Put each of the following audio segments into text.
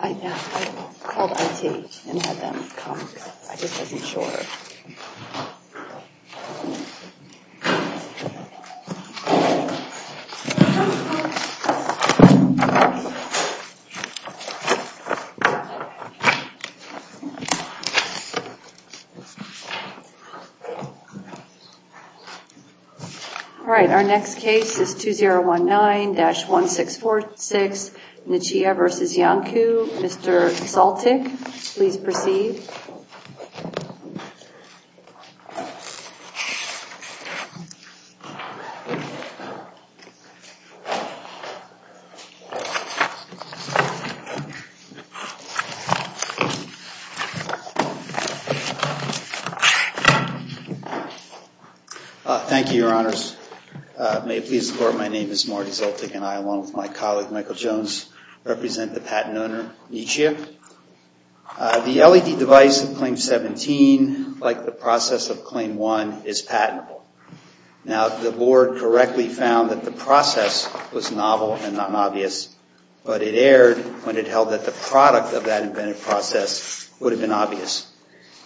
I called I.T. and had them come. I just wasn't sure. All right. Our next case is 2019-1646 Nichia v. Iancu. Mr. Saltyk, please proceed. Thank you, Your Honors. May it please the Court, my name is Marty Saltyk and I, along with my colleague Michael Jones, represent the patent owner, Nichia. Thank you. The LED device in Claim 17, like the process of Claim 1, is patentable. Now, the Board correctly found that the process was novel and not obvious, but it erred when it held that the product of that invented process would have been obvious.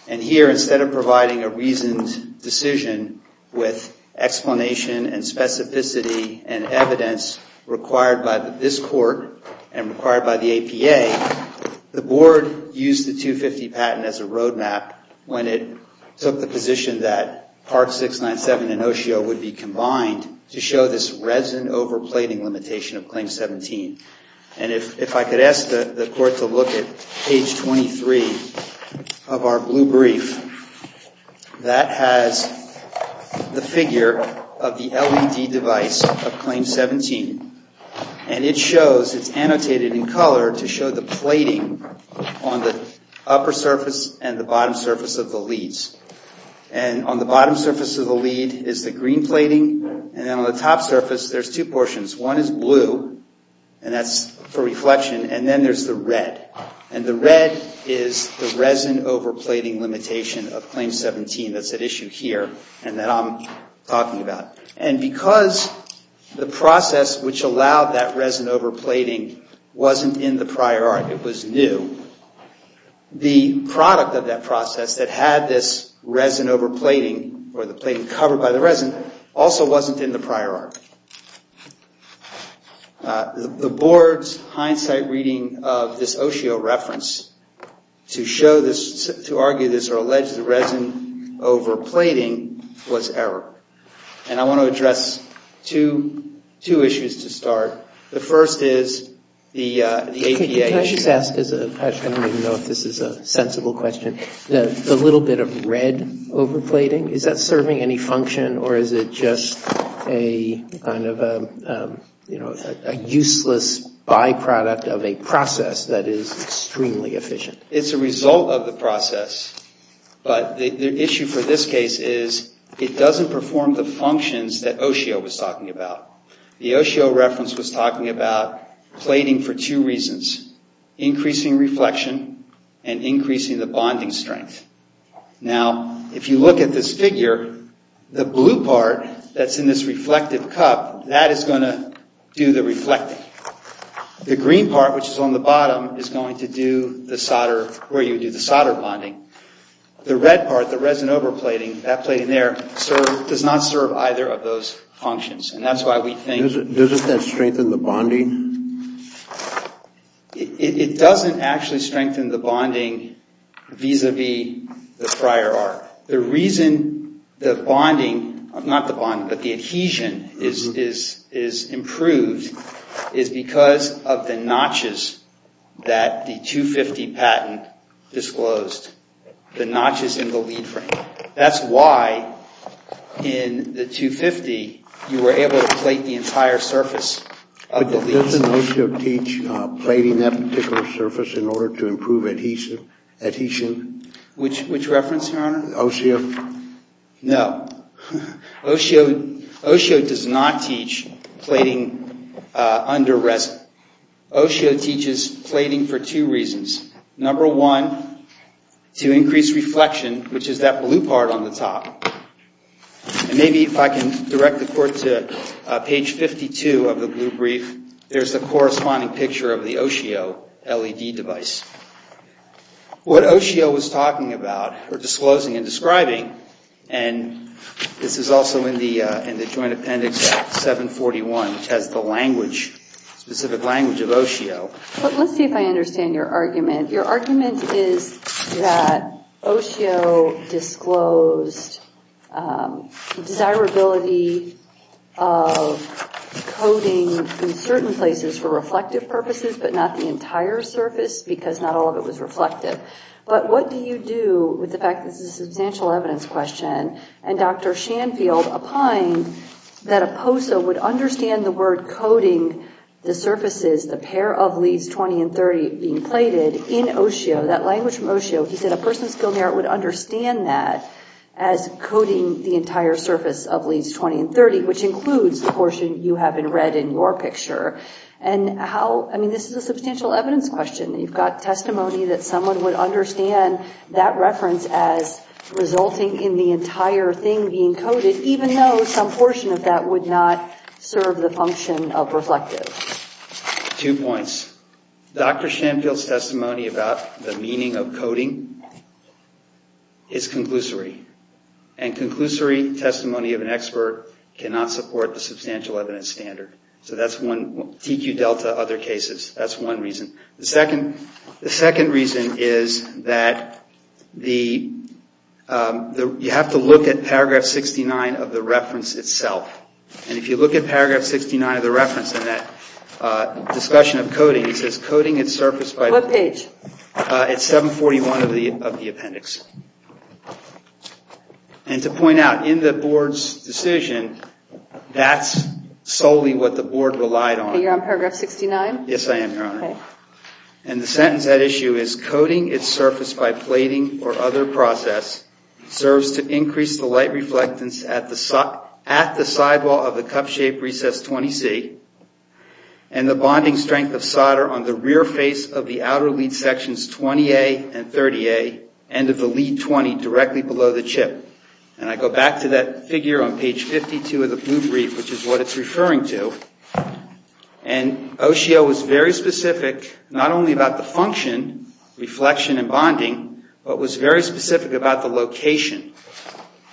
And here, instead of providing a reasoned decision with explanation and specificity and evidence required by this Court and required by the APA, the Board used the 250 patent as a roadmap when it took the position that Part 697 and OSIO would be combined to show this resident overplating limitation of Claim 17. And if I could ask the Court to look at page 23 of our blue brief, that has the figure of the LED device of Claim 17. And it shows, it's annotated in color to show the plating on the upper surface and the bottom surface of the leads. And on the bottom surface of the lead is the green plating, and then on the top surface there's two portions. One is blue, and that's for reflection, and then there's the red. And the red is the resident overplating limitation of Claim 17 that's at issue here and that I'm talking about. And because the process which allowed that resident overplating wasn't in the prior art, it was new, the product of that process that had this resident overplating or the plating covered by the resident also wasn't in the prior art. The Board's hindsight reading of this OSIO reference to show this, to argue this or allege the resident overplating was error. And I want to address two issues to start. The first is the APA issue. I don't even know if this is a sensible question. The little bit of red overplating, is that serving any function or is it just a kind of a useless byproduct of a process that is extremely efficient? It's a result of the process, but the issue for this case is it doesn't perform the functions that OSIO was talking about. The OSIO reference was talking about plating for two reasons, increasing reflection and increasing the bonding strength. Now, if you look at this figure, the blue part that's in this reflective cup, that is going to do the reflecting. The green part which is on the bottom is going to do the solder bonding. The red part, the resident overplating, that plating there does not serve either of those functions. Doesn't that strengthen the bonding? It doesn't actually strengthen the bonding vis-a-vis the prior art. The reason the bonding, not the bonding, but the adhesion is improved is because of the notches that the 250 patent disclosed, the notches in the lead frame. That's why in the 250 you were able to plate the entire surface of the lead. But doesn't OSIO teach plating that particular surface in order to improve adhesion? Which reference, your honor? OSIO. No. OSIO does not teach plating under resin. OSIO teaches plating for two reasons. Number one, to increase reflection, which is that blue part on the top. And maybe if I can direct the court to page 52 of the blue brief, there's the corresponding picture of the OSIO LED device. What OSIO was talking about, or disclosing and describing, and this is also in the Joint Appendix 741, which has the language, specific language of OSIO. Let's see if I understand your argument. Your argument is that OSIO disclosed desirability of coating in certain places for reflective purposes, but not the entire surface because not all of it was reflective. But what do you do with the fact that this is a substantial evidence question, and Dr. Shanfield opined that a POSA would understand the word coating the surfaces, the pair of leads 20 and 30 being plated, in OSIO, that language from OSIO. He said a person with skilled merit would understand that as coating the entire surface of leads 20 and 30, which includes the portion you have in red in your picture. And how, I mean, this is a substantial evidence question. You've got testimony that someone would understand that reference as resulting in the entire thing being coated, even though some portion of that would not serve the function of reflective. Two points. Dr. Shanfield's testimony about the meaning of coating is conclusory, and conclusory testimony of an expert cannot support the substantial evidence standard. So that's one, TQ Delta, other cases, that's one reason. The second reason is that you have to look at paragraph 69 of the reference itself. And if you look at paragraph 69 of the reference in that discussion of coating, it says coating its surface by the page. What page? It's 741 of the appendix. And to point out, in the board's decision, that's solely what the board relied on. You're on paragraph 69? Yes, I am, Your Honor. Okay. And the sentence at issue is, coating its surface by plating or other process serves to increase the light reflectance at the sidewall of the cup-shaped recess 20C, and the bonding strength of solder on the rear face of the outer lead sections 20A and 30A, end of the lead 20, directly below the chip. And I go back to that figure on page 52 of the blue brief, which is what it's referring to. And OCO was very specific, not only about the function, reflection and bonding, but was very specific about the location.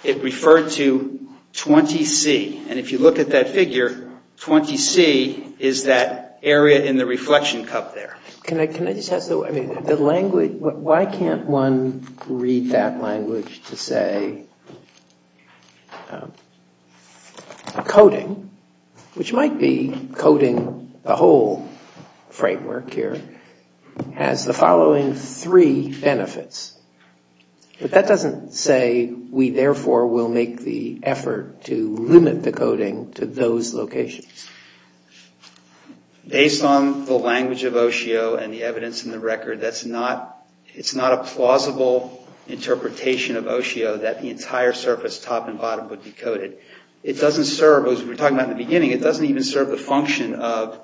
It referred to 20C. And if you look at that figure, 20C is that area in the reflection cup there. Can I just ask, why can't one read that language to say, coating, which might be coating the whole framework here, has the following three benefits. But that doesn't say we therefore will make the effort to limit the coating to those locations. Based on the language of OCO and the evidence in the record, it's not a plausible interpretation of OCO that the entire surface, top and bottom, would be coated. It doesn't serve, as we were talking about in the beginning, it doesn't even serve the function of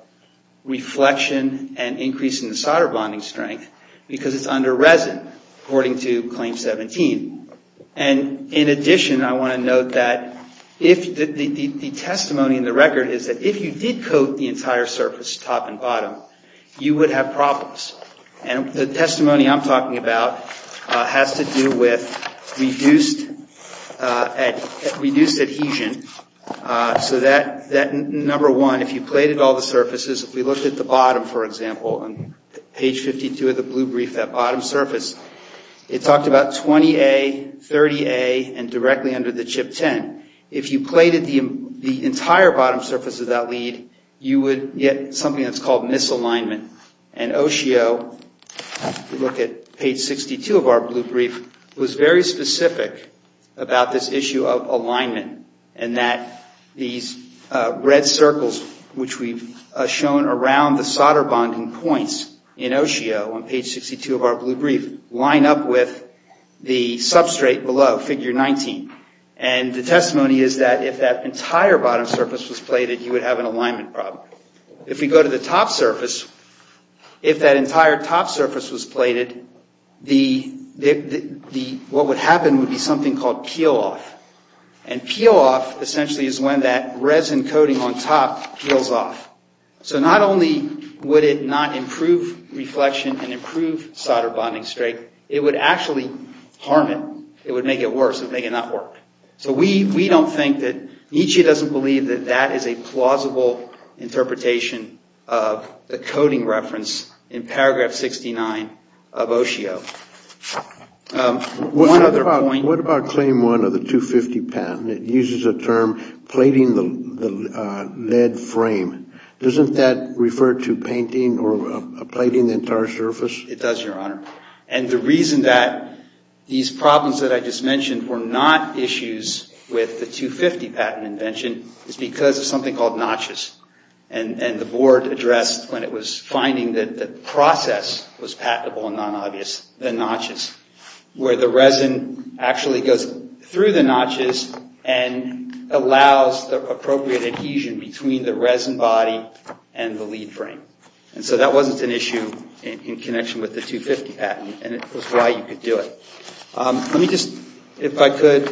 reflection and increasing the solder bonding strength, because it's under resin, according to Claim 17. And in addition, I want to note that the testimony in the record is that if you did coat the entire surface, top and bottom, you would have problems. And the testimony I'm talking about has to do with reduced adhesion. So that number one, if you plated all the surfaces, if we looked at the bottom, for example, on page 52 of the blue brief, that bottom surface, it talked about 20A, 30A, and directly under the chip 10. If you plated the entire bottom surface of that lead, you would get something that's called misalignment. And OCO, if you look at page 62 of our blue brief, was very specific about this issue of alignment, and that these red circles, which we've shown around the solder bonding points in OCO on page 62 of our blue brief, line up with the substrate below, figure 19. And the testimony is that if that entire bottom surface was plated, you would have an alignment problem. If we go to the top surface, if that entire top surface was plated, what would happen would be something called peel-off. And peel-off, essentially, is when that resin coating on top peels off. So not only would it not improve reflection and improve solder bonding strength, it would actually harm it. It would make it worse. It would make it not work. So we don't think that Nietzsche doesn't believe that that is a plausible interpretation of the coating reference in paragraph 69 of OCO. One other point. What about claim one of the 250 patent? It uses a term, plating the lead frame. Doesn't that refer to painting or plating the entire surface? It does, Your Honor. And the reason that these problems that I just mentioned were not issues with the 250 patent invention is because of something called notches. And the board addressed when it was finding that the process was patentable and non-obvious, the notches. Where the resin actually goes through the notches and allows the appropriate adhesion between the resin body and the lead frame. And so that wasn't an issue in connection with the 250 patent. And it was why you could do it. Let me just, if I could,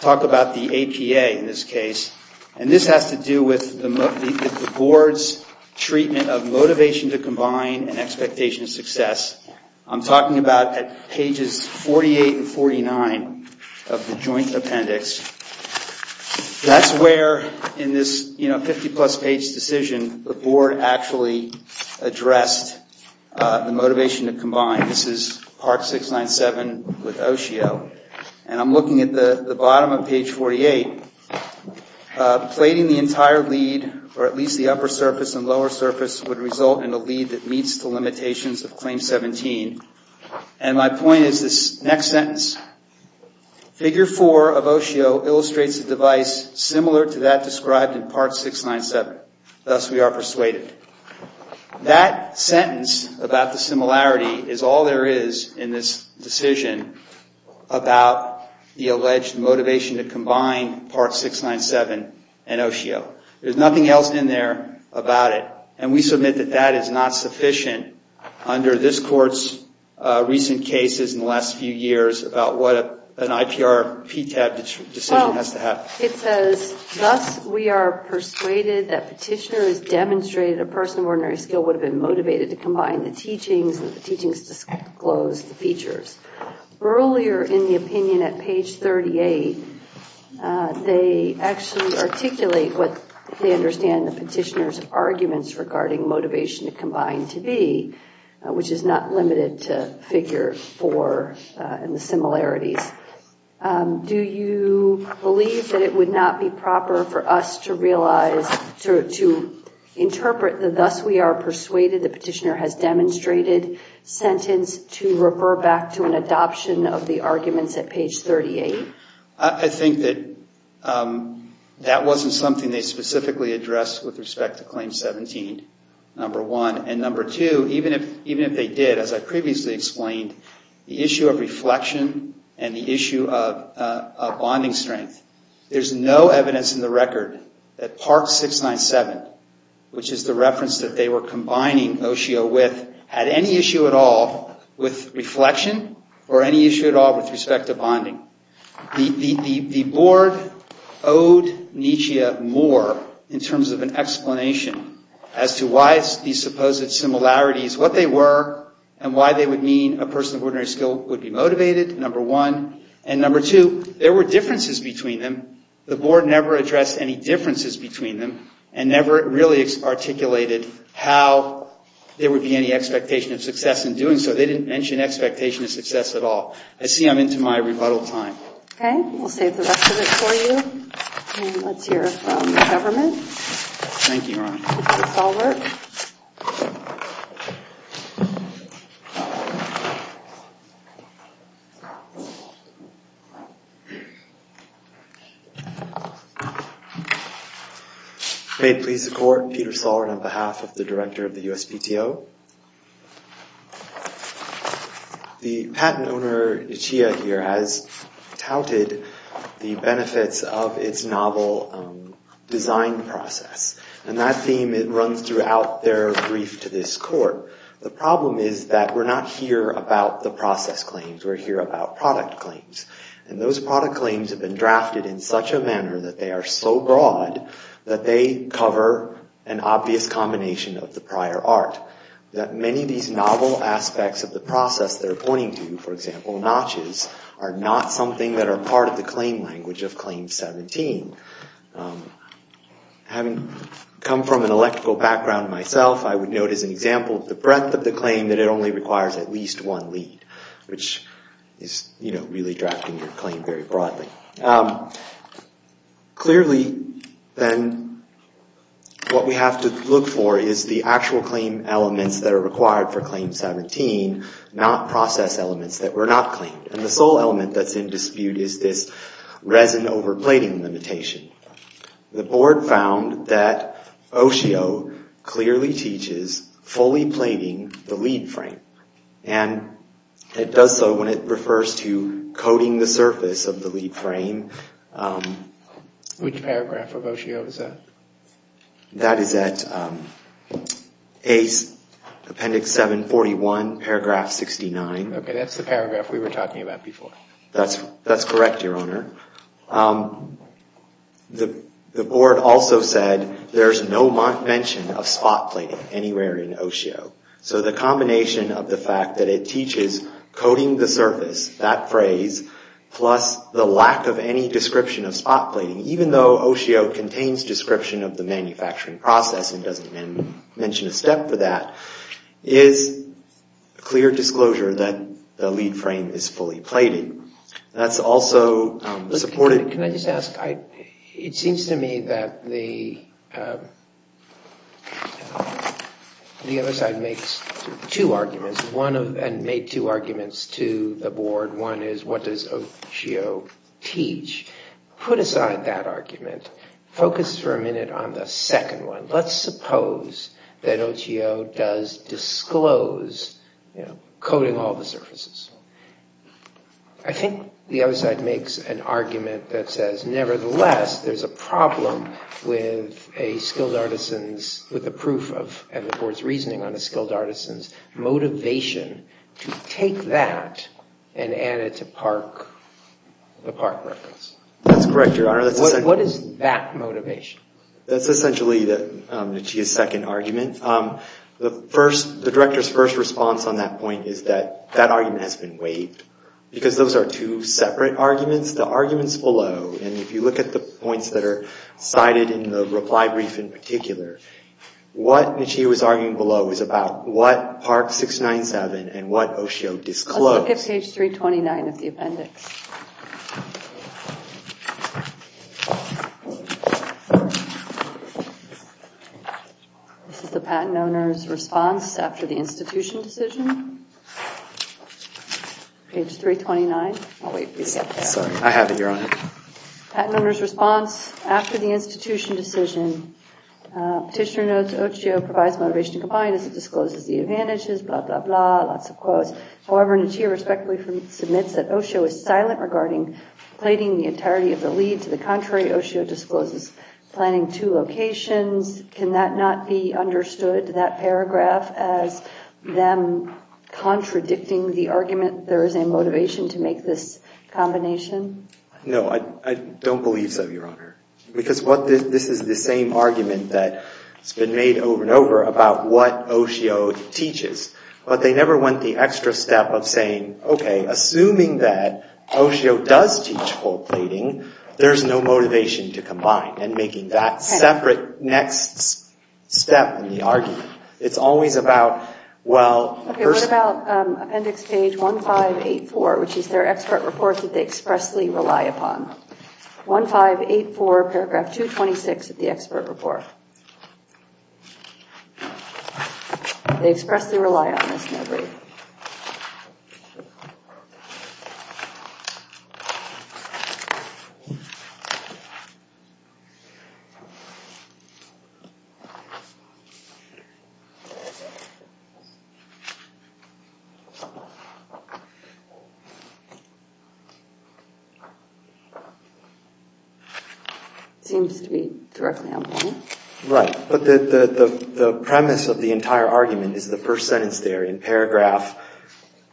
talk about the APA in this case. And this has to do with the board's treatment of motivation to combine and expectation of success. I'm talking about pages 48 and 49 of the joint appendix. That's where in this 50 plus page decision, the board actually addressed the motivation to combine. This is part 697 with Oshio. And I'm looking at the bottom of page 48. Plating the entire lead, or at least the upper surface and lower surface, would result in a lead that meets the limitations of claim 17. And my point is this next sentence. Figure 4 of Oshio illustrates a device similar to that described in part 697. Thus we are persuaded. That sentence about the similarity is all there is in this decision about the alleged motivation to combine part 697 and Oshio. There's nothing else in there about it. And we submit that that is not sufficient under this court's recent cases in the last few years about what an IPR PTAB decision has to have. It says, thus we are persuaded that petitioner has demonstrated a person of ordinary skill would have been motivated to combine the teachings that the teachings disclose the features. Earlier in the opinion at page 38, they actually articulate what they understand the petitioner's arguments regarding motivation to combine to be, which is not limited to figure 4 and the similarities. Do you believe that it would not be proper for us to realize, to interpret the thus we are persuaded the petitioner has demonstrated sentence to refer back to an adoption of the arguments at page 38? I think that that wasn't something they specifically addressed with respect to claim 17, number one. And number two, even if they did, as I previously explained, the issue of reflection and the issue of bonding strength, there's no evidence in the record that part 697, which is the reference that they were combining Oshio with, had any issue at all with reflection or any issue at all with respect to bonding. The board owed Nietzsche more in terms of an explanation as to why these supposed similarities, what they were and why they would mean a person of ordinary skill would be motivated, number one. And number two, there were differences between them. The board never addressed any differences between them and never really articulated how there would be any expectation of success in doing so. They didn't mention expectation of success at all. I see I'm into my rebuttal time. OK. We'll save the rest of it for you. And let's hear from the government. Thank you, Your Honor. Peter Sollert. May it please the court, Peter Sollert on behalf of the director of the USPTO. The patent owner, Ichiya, here has touted the benefits of its novel design process. And that theme, it runs throughout their brief to this court. The problem is that we're not here about the process claims. We're here about product claims. And those product claims have been drafted in such a manner that they are so broad that they cover an obvious combination of the prior art. That many of these novel aspects of the process they're pointing to, for example, notches, are not something that are part of the claim language of Claim 17. Having come from an electrical background myself, I would note as an example the breadth of the claim that it only requires at least one lead, which is, you know, really drafting the claim very broadly. Clearly, then, what we have to look for is the actual claim elements that are required for Claim 17, not process elements that were not claimed. And the sole element that's in dispute is this resin over plating limitation. The board found that Oshio clearly teaches fully plating the lead frame. And it does so when it refers to coating the surface of the lead frame. Which paragraph of Oshio is that? That is at Ace Appendix 741, paragraph 69. Okay, that's the paragraph we were talking about before. That's correct, Your Honor. The board also said there's no mention of spot plating anywhere in Oshio. So the combination of the fact that it teaches coating the surface, that phrase, plus the lack of any description of spot plating, even though Oshio contains description of the manufacturing process and doesn't mention a step for that, is clear disclosure that the lead frame is fully plated. That's also supported. Can I just ask? It seems to me that the other side makes two arguments and made two arguments to the board. One is what does Oshio teach? Put aside that argument. Focus for a minute on the second one. Let's suppose that Oshio does disclose coating all the surfaces. I think the other side makes an argument that says, nevertheless, there's a problem with a skilled artisan's, with the proof of the board's reasoning on a skilled artisan's, motivation to take that and add it to the park records. That's correct, Your Honor. What is that motivation? That's essentially the second argument. The director's first response on that point is that that argument has been waived because those are two separate arguments. The arguments below, and if you look at the points that are cited in the reply brief in particular, what Michie was arguing below was about what Park 697 and what Oshio disclosed. Let's look at page 329 of the appendix. This is the patent owner's response after the institution decision. Page 329. I'll wait for you to get that. Sorry, I have it, Your Honor. Patent owner's response after the institution decision. Petitioner notes Oshio provides motivation to combine as it discloses the advantages, blah, blah, blah, lots of quotes. However, Michie respectfully submits that Oshio is silent regarding plating the entirety of the lead. To the contrary, Oshio discloses planning two locations. Can that not be understood, that paragraph, as them contradicting the argument there is a motivation to make this combination? No, I don't believe so, Your Honor, because this is the same argument that's been made over and over about what Oshio teaches. But they never went the extra step of saying, OK, assuming that Oshio does teach whole plating, there's no motivation to combine, and making that separate next step in the argument. It's always about, well— OK, what about appendix page 1584, which is their expert report that they expressly rely upon? 1584, paragraph 226 of the expert report. They expressly rely on this memory. It seems to be directly on point. Right, but the premise of the entire argument is the first sentence there in paragraph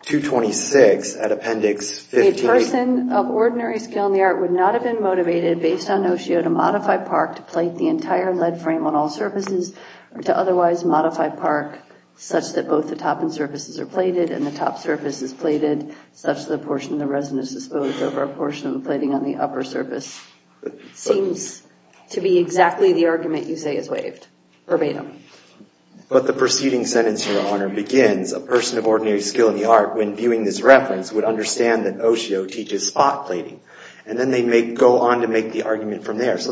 226 at appendix 15. A person of ordinary skill in the art would not have been motivated, based on Oshio, to modify park, to plate the entire lead frame on all surfaces, or to otherwise modify park, such that both the top and surfaces are plated, and the top surface is plated, such that the portion of the resin is disposed over a portion of the plating on the upper surface. Seems to be exactly the argument you say is waived, verbatim. But the preceding sentence, Your Honor, begins, A person of ordinary skill in the art, when viewing this reference, would understand that Oshio teaches spot plating. And then they go on to make the argument from there. So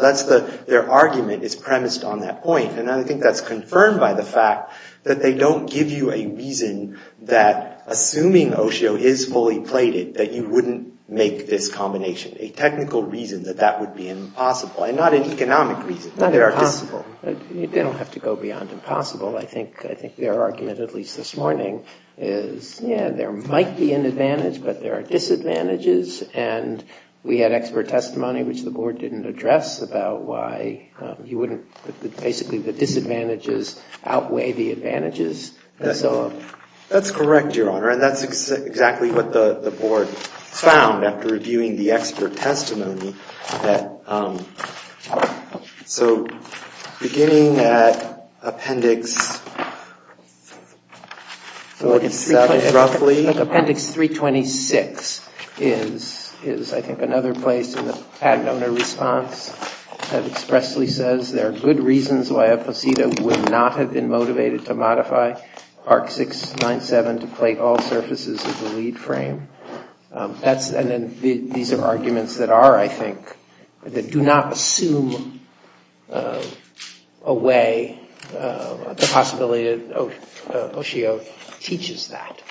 their argument is premised on that point. And I think that's confirmed by the fact that they don't give you a reason that, assuming Oshio is fully plated, that you wouldn't make this combination. A technical reason that that would be impossible. And not an economic reason. Not impossible. They don't have to go beyond impossible. I think their argument, at least this morning, is, yeah, there might be an advantage, but there are disadvantages. And we had expert testimony, which the Board didn't address, about why you wouldn't, basically, the disadvantages outweigh the advantages. That's correct, Your Honor. And that's exactly what the Board found after reviewing the expert testimony. So beginning at Appendix 37, roughly. I think Appendix 326 is, I think, another place in the Padnona response that expressly says, there are good reasons why a posita would not have been motivated to modify Art 697 to plate all surfaces of the lead frame. And these are arguments that are, I think, that do not assume away the possibility that Oshio teaches that.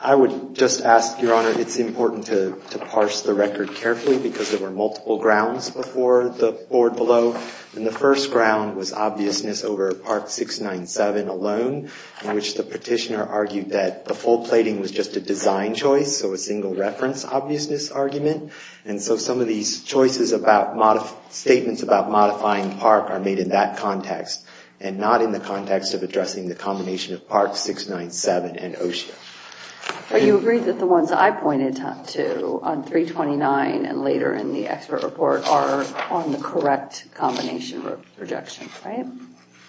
I would just ask, Your Honor, it's important to parse the record carefully, because there were multiple grounds before the Board below. And the first ground was obviousness over Part 697 alone, in which the petitioner argued that the full plating was just a design choice, so a single reference obviousness argument. And so some of these choices about statements about modifying PARC are made in that context, and not in the context of addressing the combination of PARC 697 and Oshio. But you agree that the ones I pointed to on 329 and later in the expert report are on the correct combination of projections, right?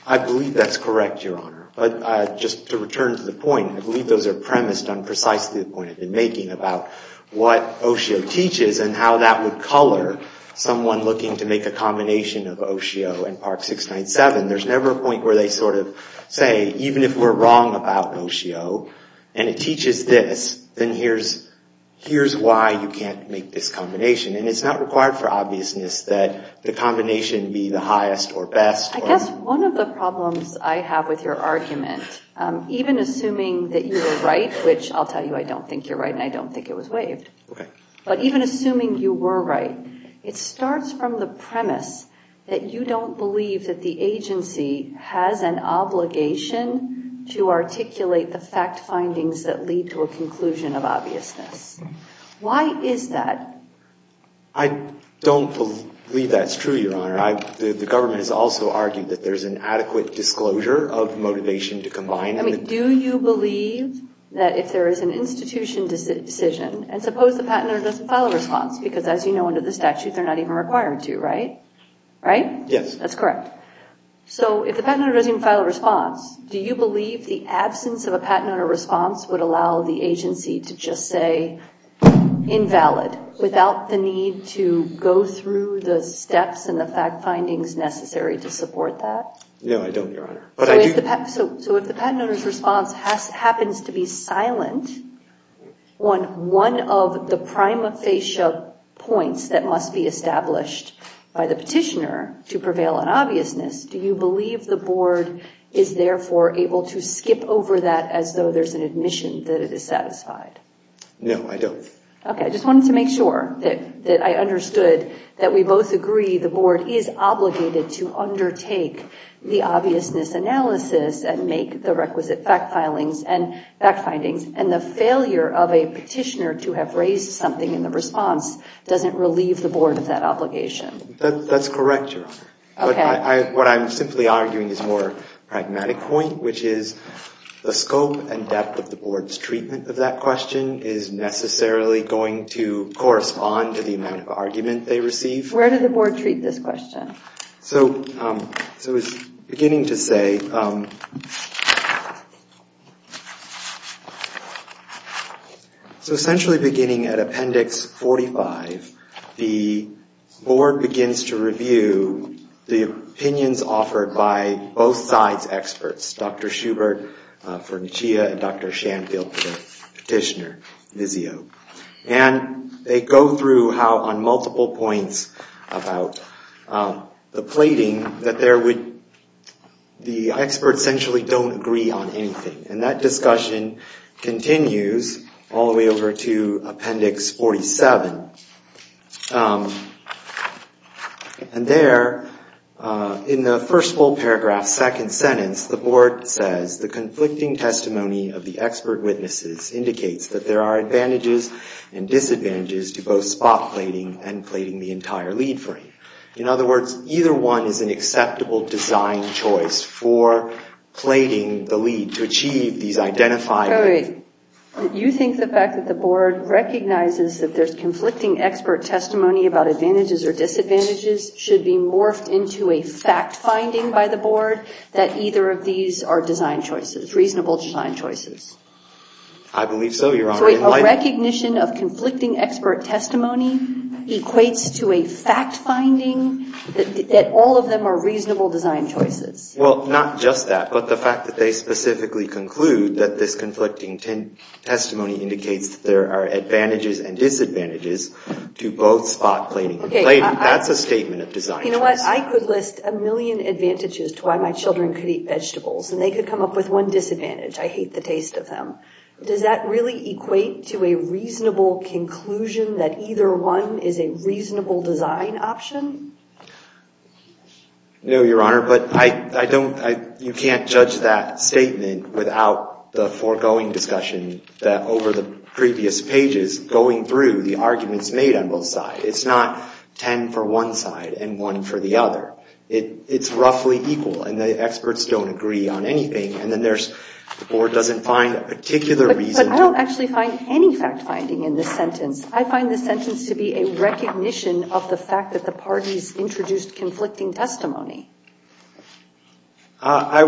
I believe that's correct, Your Honor. But just to return to the point, I believe those are premised on precisely the point I've been making about what Oshio teaches and how that would color someone looking to make a combination of Oshio and PARC 697. There's never a point where they sort of say, even if we're wrong about Oshio and it teaches this, then here's why you can't make this combination. And it's not required for obviousness that the combination be the highest or best. I guess one of the problems I have with your argument, even assuming that you were right, which I'll tell you I don't think you're right and I don't think it was waived, but even assuming you were right, it starts from the premise that you don't believe that the agency has an obligation to articulate the fact findings that lead to a conclusion of obviousness. Why is that? I don't believe that's true, Your Honor. The government has also argued that there's an adequate disclosure of motivation to combine. Do you believe that if there is an institution decision, and suppose the patent owner doesn't file a response, because as you know under the statute they're not even required to, right? Right? Yes. That's correct. So if the patent owner doesn't file a response, do you believe the absence of a patent owner response would allow the agency to just say invalid without the need to go through the steps and the fact findings necessary to support that? No, I don't, Your Honor. So if the patent owner's response happens to be silent on one of the prima facie points that must be established by the petitioner to prevail on obviousness, do you believe the board is therefore able to skip over that as though there's an admission that it is satisfied? No, I don't. Okay. I just wanted to make sure that I understood that we both agree the board is obligated to undertake the obviousness analysis and make the requisite fact findings, and the failure of a petitioner to have raised something in the response doesn't relieve the board of that obligation. That's correct, Your Honor. What I'm simply arguing is a more pragmatic point, which is the scope and depth of the board's treatment of that question is necessarily going to correspond to the amount of argument they receive. Where did the board treat this question? So it's beginning to say, so essentially beginning at Appendix 45, the board begins to review the opinions offered by both sides' experts, Dr. Schubert, Furnishia, and Dr. Shanfield, the petitioner, Vizio. And they go through how on multiple points about the plating, that the experts essentially don't agree on anything. And that discussion continues all the way over to Appendix 47. And there, in the first full paragraph, second sentence, the board says, the conflicting testimony of the expert witnesses indicates that there are advantages and disadvantages to both spot plating and plating the entire lead frame. In other words, either one is an acceptable design choice for plating the lead to achieve these identifiers. You think the fact that the board recognizes that there's conflicting expert testimony about advantages or disadvantages should be morphed into a fact-finding by the board that either of these are design choices, reasonable design choices? I believe so, Your Honor. So a recognition of conflicting expert testimony equates to a fact-finding that all of them are reasonable design choices? Well, not just that, but the fact that they specifically conclude that this conflicting testimony indicates that there are advantages and disadvantages to both spot plating and plating. That's a statement of design choice. You know what? I could list a million advantages to why my children could eat vegetables, and they could come up with one disadvantage. I hate the taste of them. Does that really equate to a reasonable conclusion that either one is a reasonable design option? No, Your Honor, but you can't judge that statement without the foregoing discussion that over the previous pages going through the arguments made on both sides. It's not 10 for one side and one for the other. It's roughly equal, and the experts don't agree on anything, and then the board doesn't find a particular reason. But I don't actually find any fact-finding in this sentence. I find this sentence to be a recognition of the fact that the parties introduced conflicting testimony. I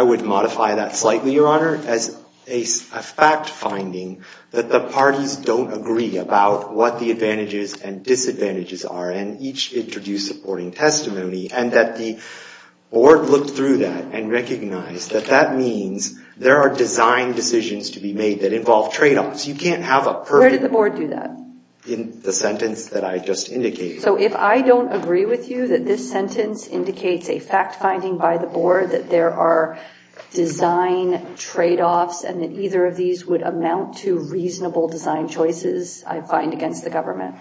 would modify that slightly, Your Honor, as a fact-finding that the parties don't agree about what the advantages and disadvantages are, and each introduced supporting testimony, and that the board looked through that and recognized that that means there are design decisions to be made that involve trade-offs. You can't have a perfect— Where did the board do that? In the sentence that I just indicated. So if I don't agree with you that this sentence indicates a fact-finding by the board, that there are design trade-offs, and that either of these would amount to reasonable design choices, I find, against the government?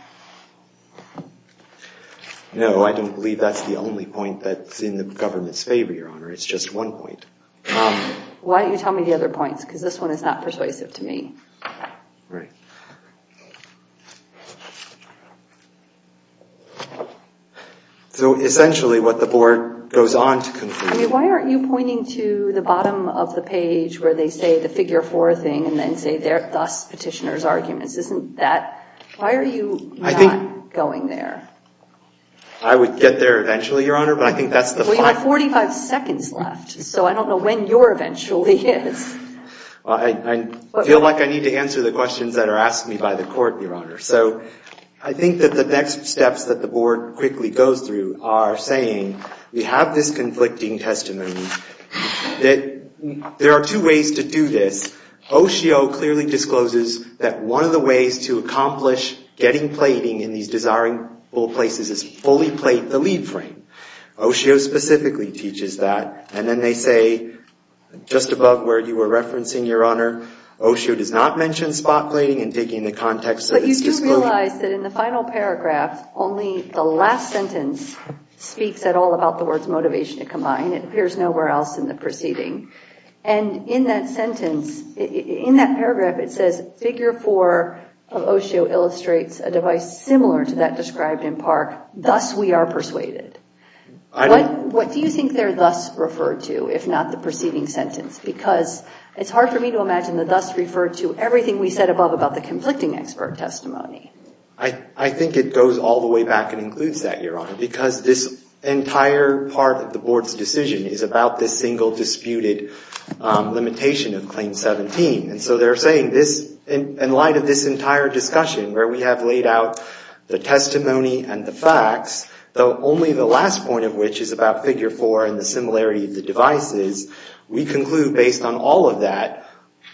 No, I don't believe that's the only point that's in the government's favor, Your Honor. It's just one point. Why don't you tell me the other points, because this one is not persuasive to me. Right. So essentially what the board goes on to conclude— I mean, why aren't you pointing to the bottom of the page where they say the figure-four thing and then say, thus, petitioner's arguments? Isn't that—why are you not going there? I would get there eventually, Your Honor, but I think that's the— Well, you have 45 seconds left, so I don't know when your eventually is. I feel like I need to answer the questions that are asked me by the court, Your Honor. So I think that the next steps that the board quickly goes through are saying, we have this conflicting testimony, that there are two ways to do this. Oshio clearly discloses that one of the ways to accomplish getting plating in these desirable places is fully plate the lead frame. Oshio specifically teaches that, and then they say, just above where you were referencing, Your Honor, Oshio does not mention spot plating in digging the context of this disclosure. I realize that in the final paragraph, only the last sentence speaks at all about the words motivation to combine. It appears nowhere else in the proceeding. And in that sentence, in that paragraph, it says, figure-four of Oshio illustrates a device similar to that described in Park. Thus, we are persuaded. What do you think they're thus referred to, if not the preceding sentence? Because it's hard for me to imagine that thus referred to everything we said above about the conflicting expert testimony. I think it goes all the way back and includes that, Your Honor, because this entire part of the board's decision is about this single disputed limitation of Claim 17. And so they're saying this in light of this entire discussion where we have laid out the testimony and the facts, though only the last point of which is about figure-four and the similarity of the devices, we conclude, based on all of that,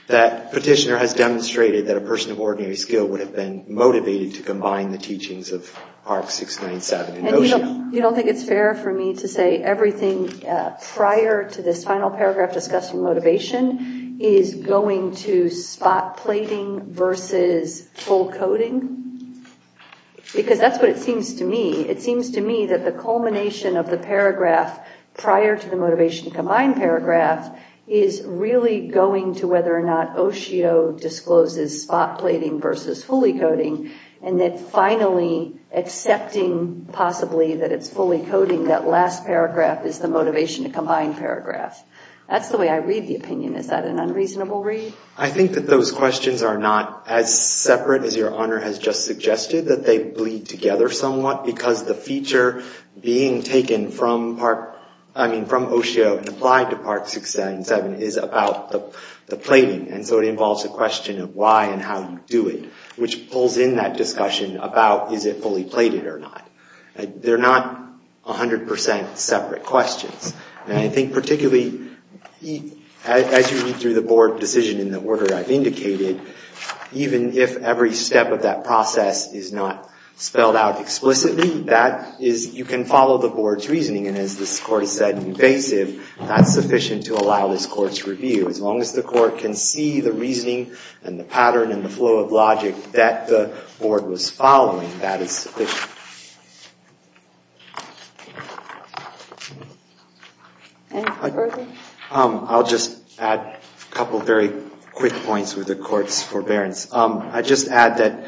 that Petitioner has demonstrated that a person of ordinary skill would have been motivated to combine the teachings of Park 697 in Oshio. And you don't think it's fair for me to say everything prior to this final paragraph discussing motivation is going to spot plating versus full coding? Because that's what it seems to me. It seems to me that the culmination of the paragraph prior to the motivation to combine paragraph is really going to whether or not Oshio discloses spot plating versus fully coding, and that finally accepting possibly that it's fully coding that last paragraph is the motivation to combine paragraph. That's the way I read the opinion. Is that an unreasonable read? I think that those questions are not as separate as Your Honor has just suggested, that they bleed together somewhat because the feature being taken from Oshio and applied to Park 697 is about the plating. And so it involves a question of why and how you do it, which pulls in that discussion about is it fully plated or not. They're not 100% separate questions. And I think particularly as you read through the board decision in the order I've indicated, even if every step of that process is not spelled out explicitly, that is you can follow the board's reasoning. And as this court has said invasive, that's sufficient to allow this court's review. As long as the court can see the reasoning and the pattern and the flow of logic that the board was following, that is sufficient. Any further? I'll just add a couple of very quick points with the court's forbearance. I'd just add that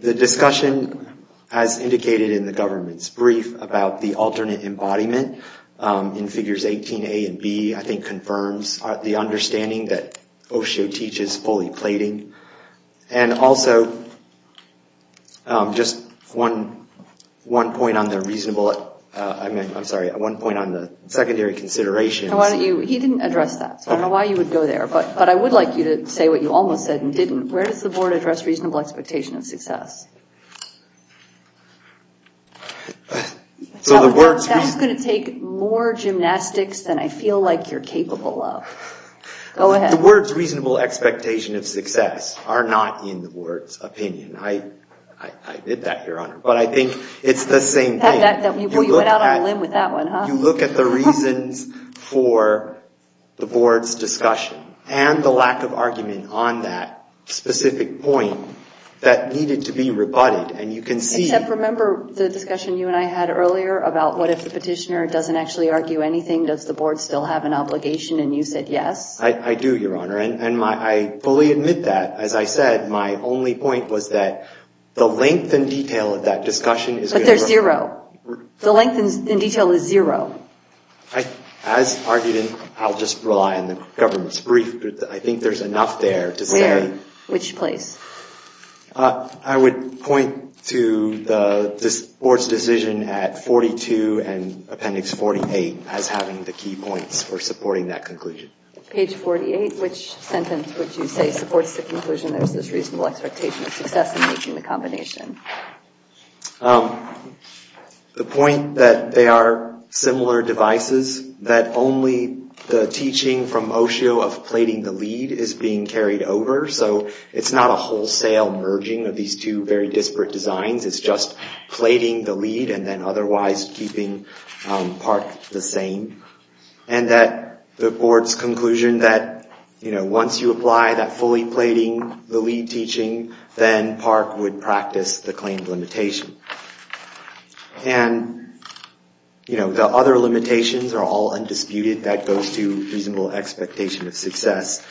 the discussion, as indicated in the government's brief, about the alternate embodiment in figures 18A and B, I think, confirms the understanding that Oshio teaches fully plating. And also just one point on the secondary considerations. He didn't address that, so I don't know why you would go there. But I would like you to say what you almost said and didn't. Where does the board address reasonable expectation of success? That's going to take more gymnastics than I feel like you're capable of. Go ahead. The words reasonable expectation of success are not in the board's opinion. I admit that, Your Honor. But I think it's the same thing. We went out on a limb with that one, huh? You look at the reasons for the board's discussion and the lack of argument on that specific point that needed to be rebutted, and you can see... Except remember the discussion you and I had earlier about what if the petitioner doesn't actually argue anything? Does the board still have an obligation? And you said yes? I do, Your Honor. And I fully admit that. As I said, my only point was that the length and detail of that discussion is going to... But they're zero. The length and detail is zero. As argued, and I'll just rely on the government's brief, but I think there's enough there to say... Where? Which place? I would point to the board's decision at 42 and appendix 48 as having the key points for supporting that conclusion. Page 48, which sentence would you say supports the conclusion there's this reasonable expectation of success in making the combination? The point that they are similar devices, that only the teaching from OSHO of plating the lead is being carried over. So it's not a wholesale merging of these two very disparate designs. It's just plating the lead and then otherwise keeping PARC the same. And that the board's conclusion that once you apply that fully plating the lead teaching, then PARC would practice the claimed limitation. And the other limitations are all undisputed. That goes to reasonable expectation of success,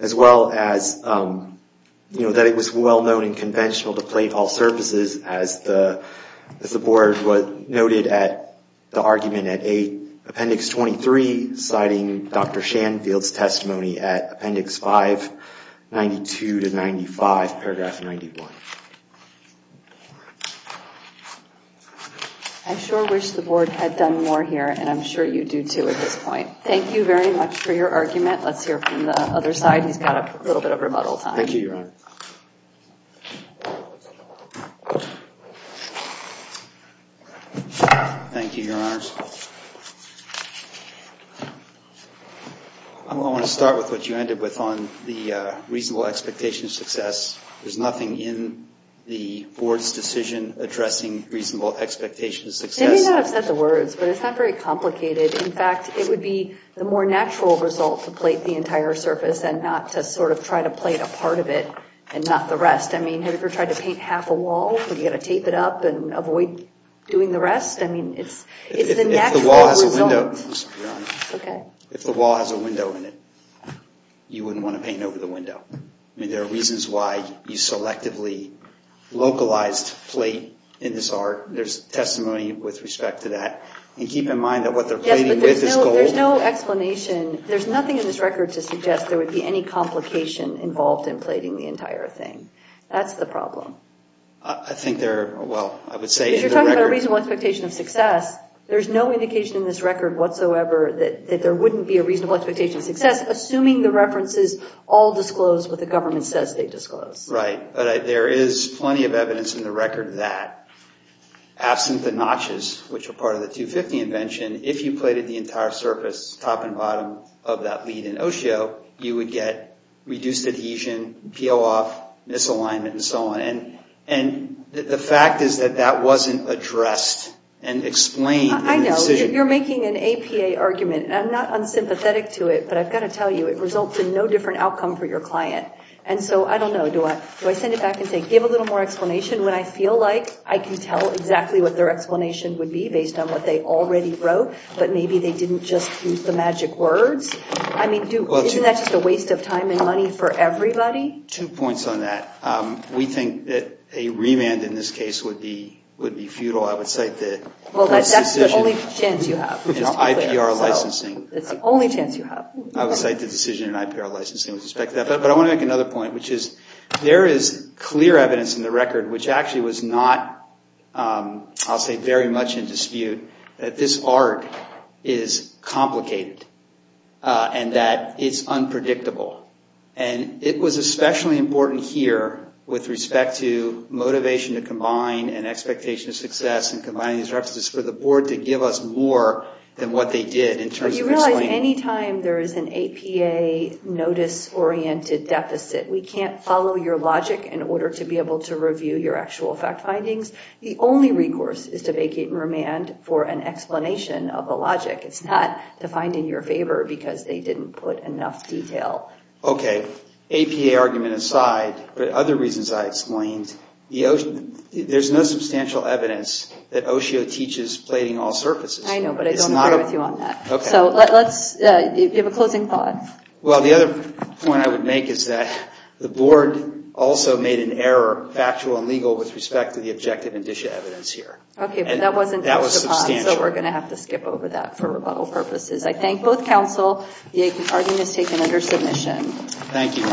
as well as that it was well-known and conventional to plate all surfaces as the board noted at the argument at 8, appendix 23, citing Dr. Shanfield's testimony at appendix 5, 92 to 95, paragraph 91. I sure wish the board had done more here, and I'm sure you do too at this point. Thank you very much for your argument. Let's hear from the other side. He's got a little bit of rebuttal time. Thank you, Your Honor. Thank you, Your Honors. I want to start with what you ended with on the reasonable expectation of success. There's nothing in the board's decision addressing reasonable expectation of success. They may not have said the words, but it's not very complicated. In fact, it would be the more natural result to plate the entire surface and not to sort of try to plate a part of it and not the rest. I mean, have you ever tried to paint half a wall? Would you have to tape it up and avoid doing the rest? I mean, it's the natural result. If the wall has a window in it, you wouldn't want to paint over the window. I mean, there are reasons why you selectively localized plate in this art. There's testimony with respect to that. And keep in mind that what they're plating with is gold. Yes, but there's no explanation. There's nothing in this record to suggest there would be any complication involved in plating the entire thing. That's the problem. I think they're, well, I would say in the record. Because you're talking about a reasonable expectation of success. There's no indication in this record whatsoever that there wouldn't be a reasonable expectation of success, assuming the references all disclose what the government says they disclose. Right, but there is plenty of evidence in the record that, absent the notches, which are part of the 250 invention, if you plated the entire surface, top and bottom, of that lead in Osho, you would get reduced adhesion, peel off, misalignment, and so on. And the fact is that that wasn't addressed and explained in the decision. I know. You're making an APA argument, and I'm not unsympathetic to it, but I've got to tell you, it results in no different outcome for your client. And so, I don't know, do I send it back and say, give a little more explanation when I feel like I can tell exactly what their explanation would be based on what they already wrote, but maybe they didn't just use the magic words? I mean, isn't that just a waste of time and money for everybody? Two points on that. We think that a remand in this case would be futile. I would cite the decision. Well, that's the only chance you have. IPR licensing. That's the only chance you have. I would cite the decision in IPR licensing with respect to that. But I want to make another point, which is, there is clear evidence in the record, which actually was not, I'll say, very much in dispute, that this art is complicated and that it's unpredictable. And it was especially important here with respect to motivation to combine and expectation of success and combining these references for the board to give us more than what they did in terms of explaining. Any time there is an APA notice-oriented deficit, we can't follow your logic in order to be able to review your actual fact findings. The only recourse is to vacate remand for an explanation of the logic. It's not to find in your favor because they didn't put enough detail. Okay. APA argument aside, but other reasons I explained, there's no substantial evidence that OSHO teaches plating all surfaces. I know, but I don't agree with you on that. Okay. So let's give a closing thought. Well, the other point I would make is that the board also made an error, factual and legal, with respect to the objective and dis-evidence here. Okay, but that wasn't touched upon. That was substantial. So we're going to have to skip over that for rebuttal purposes. I thank both counsel. The argument is taken under submission. Thank you.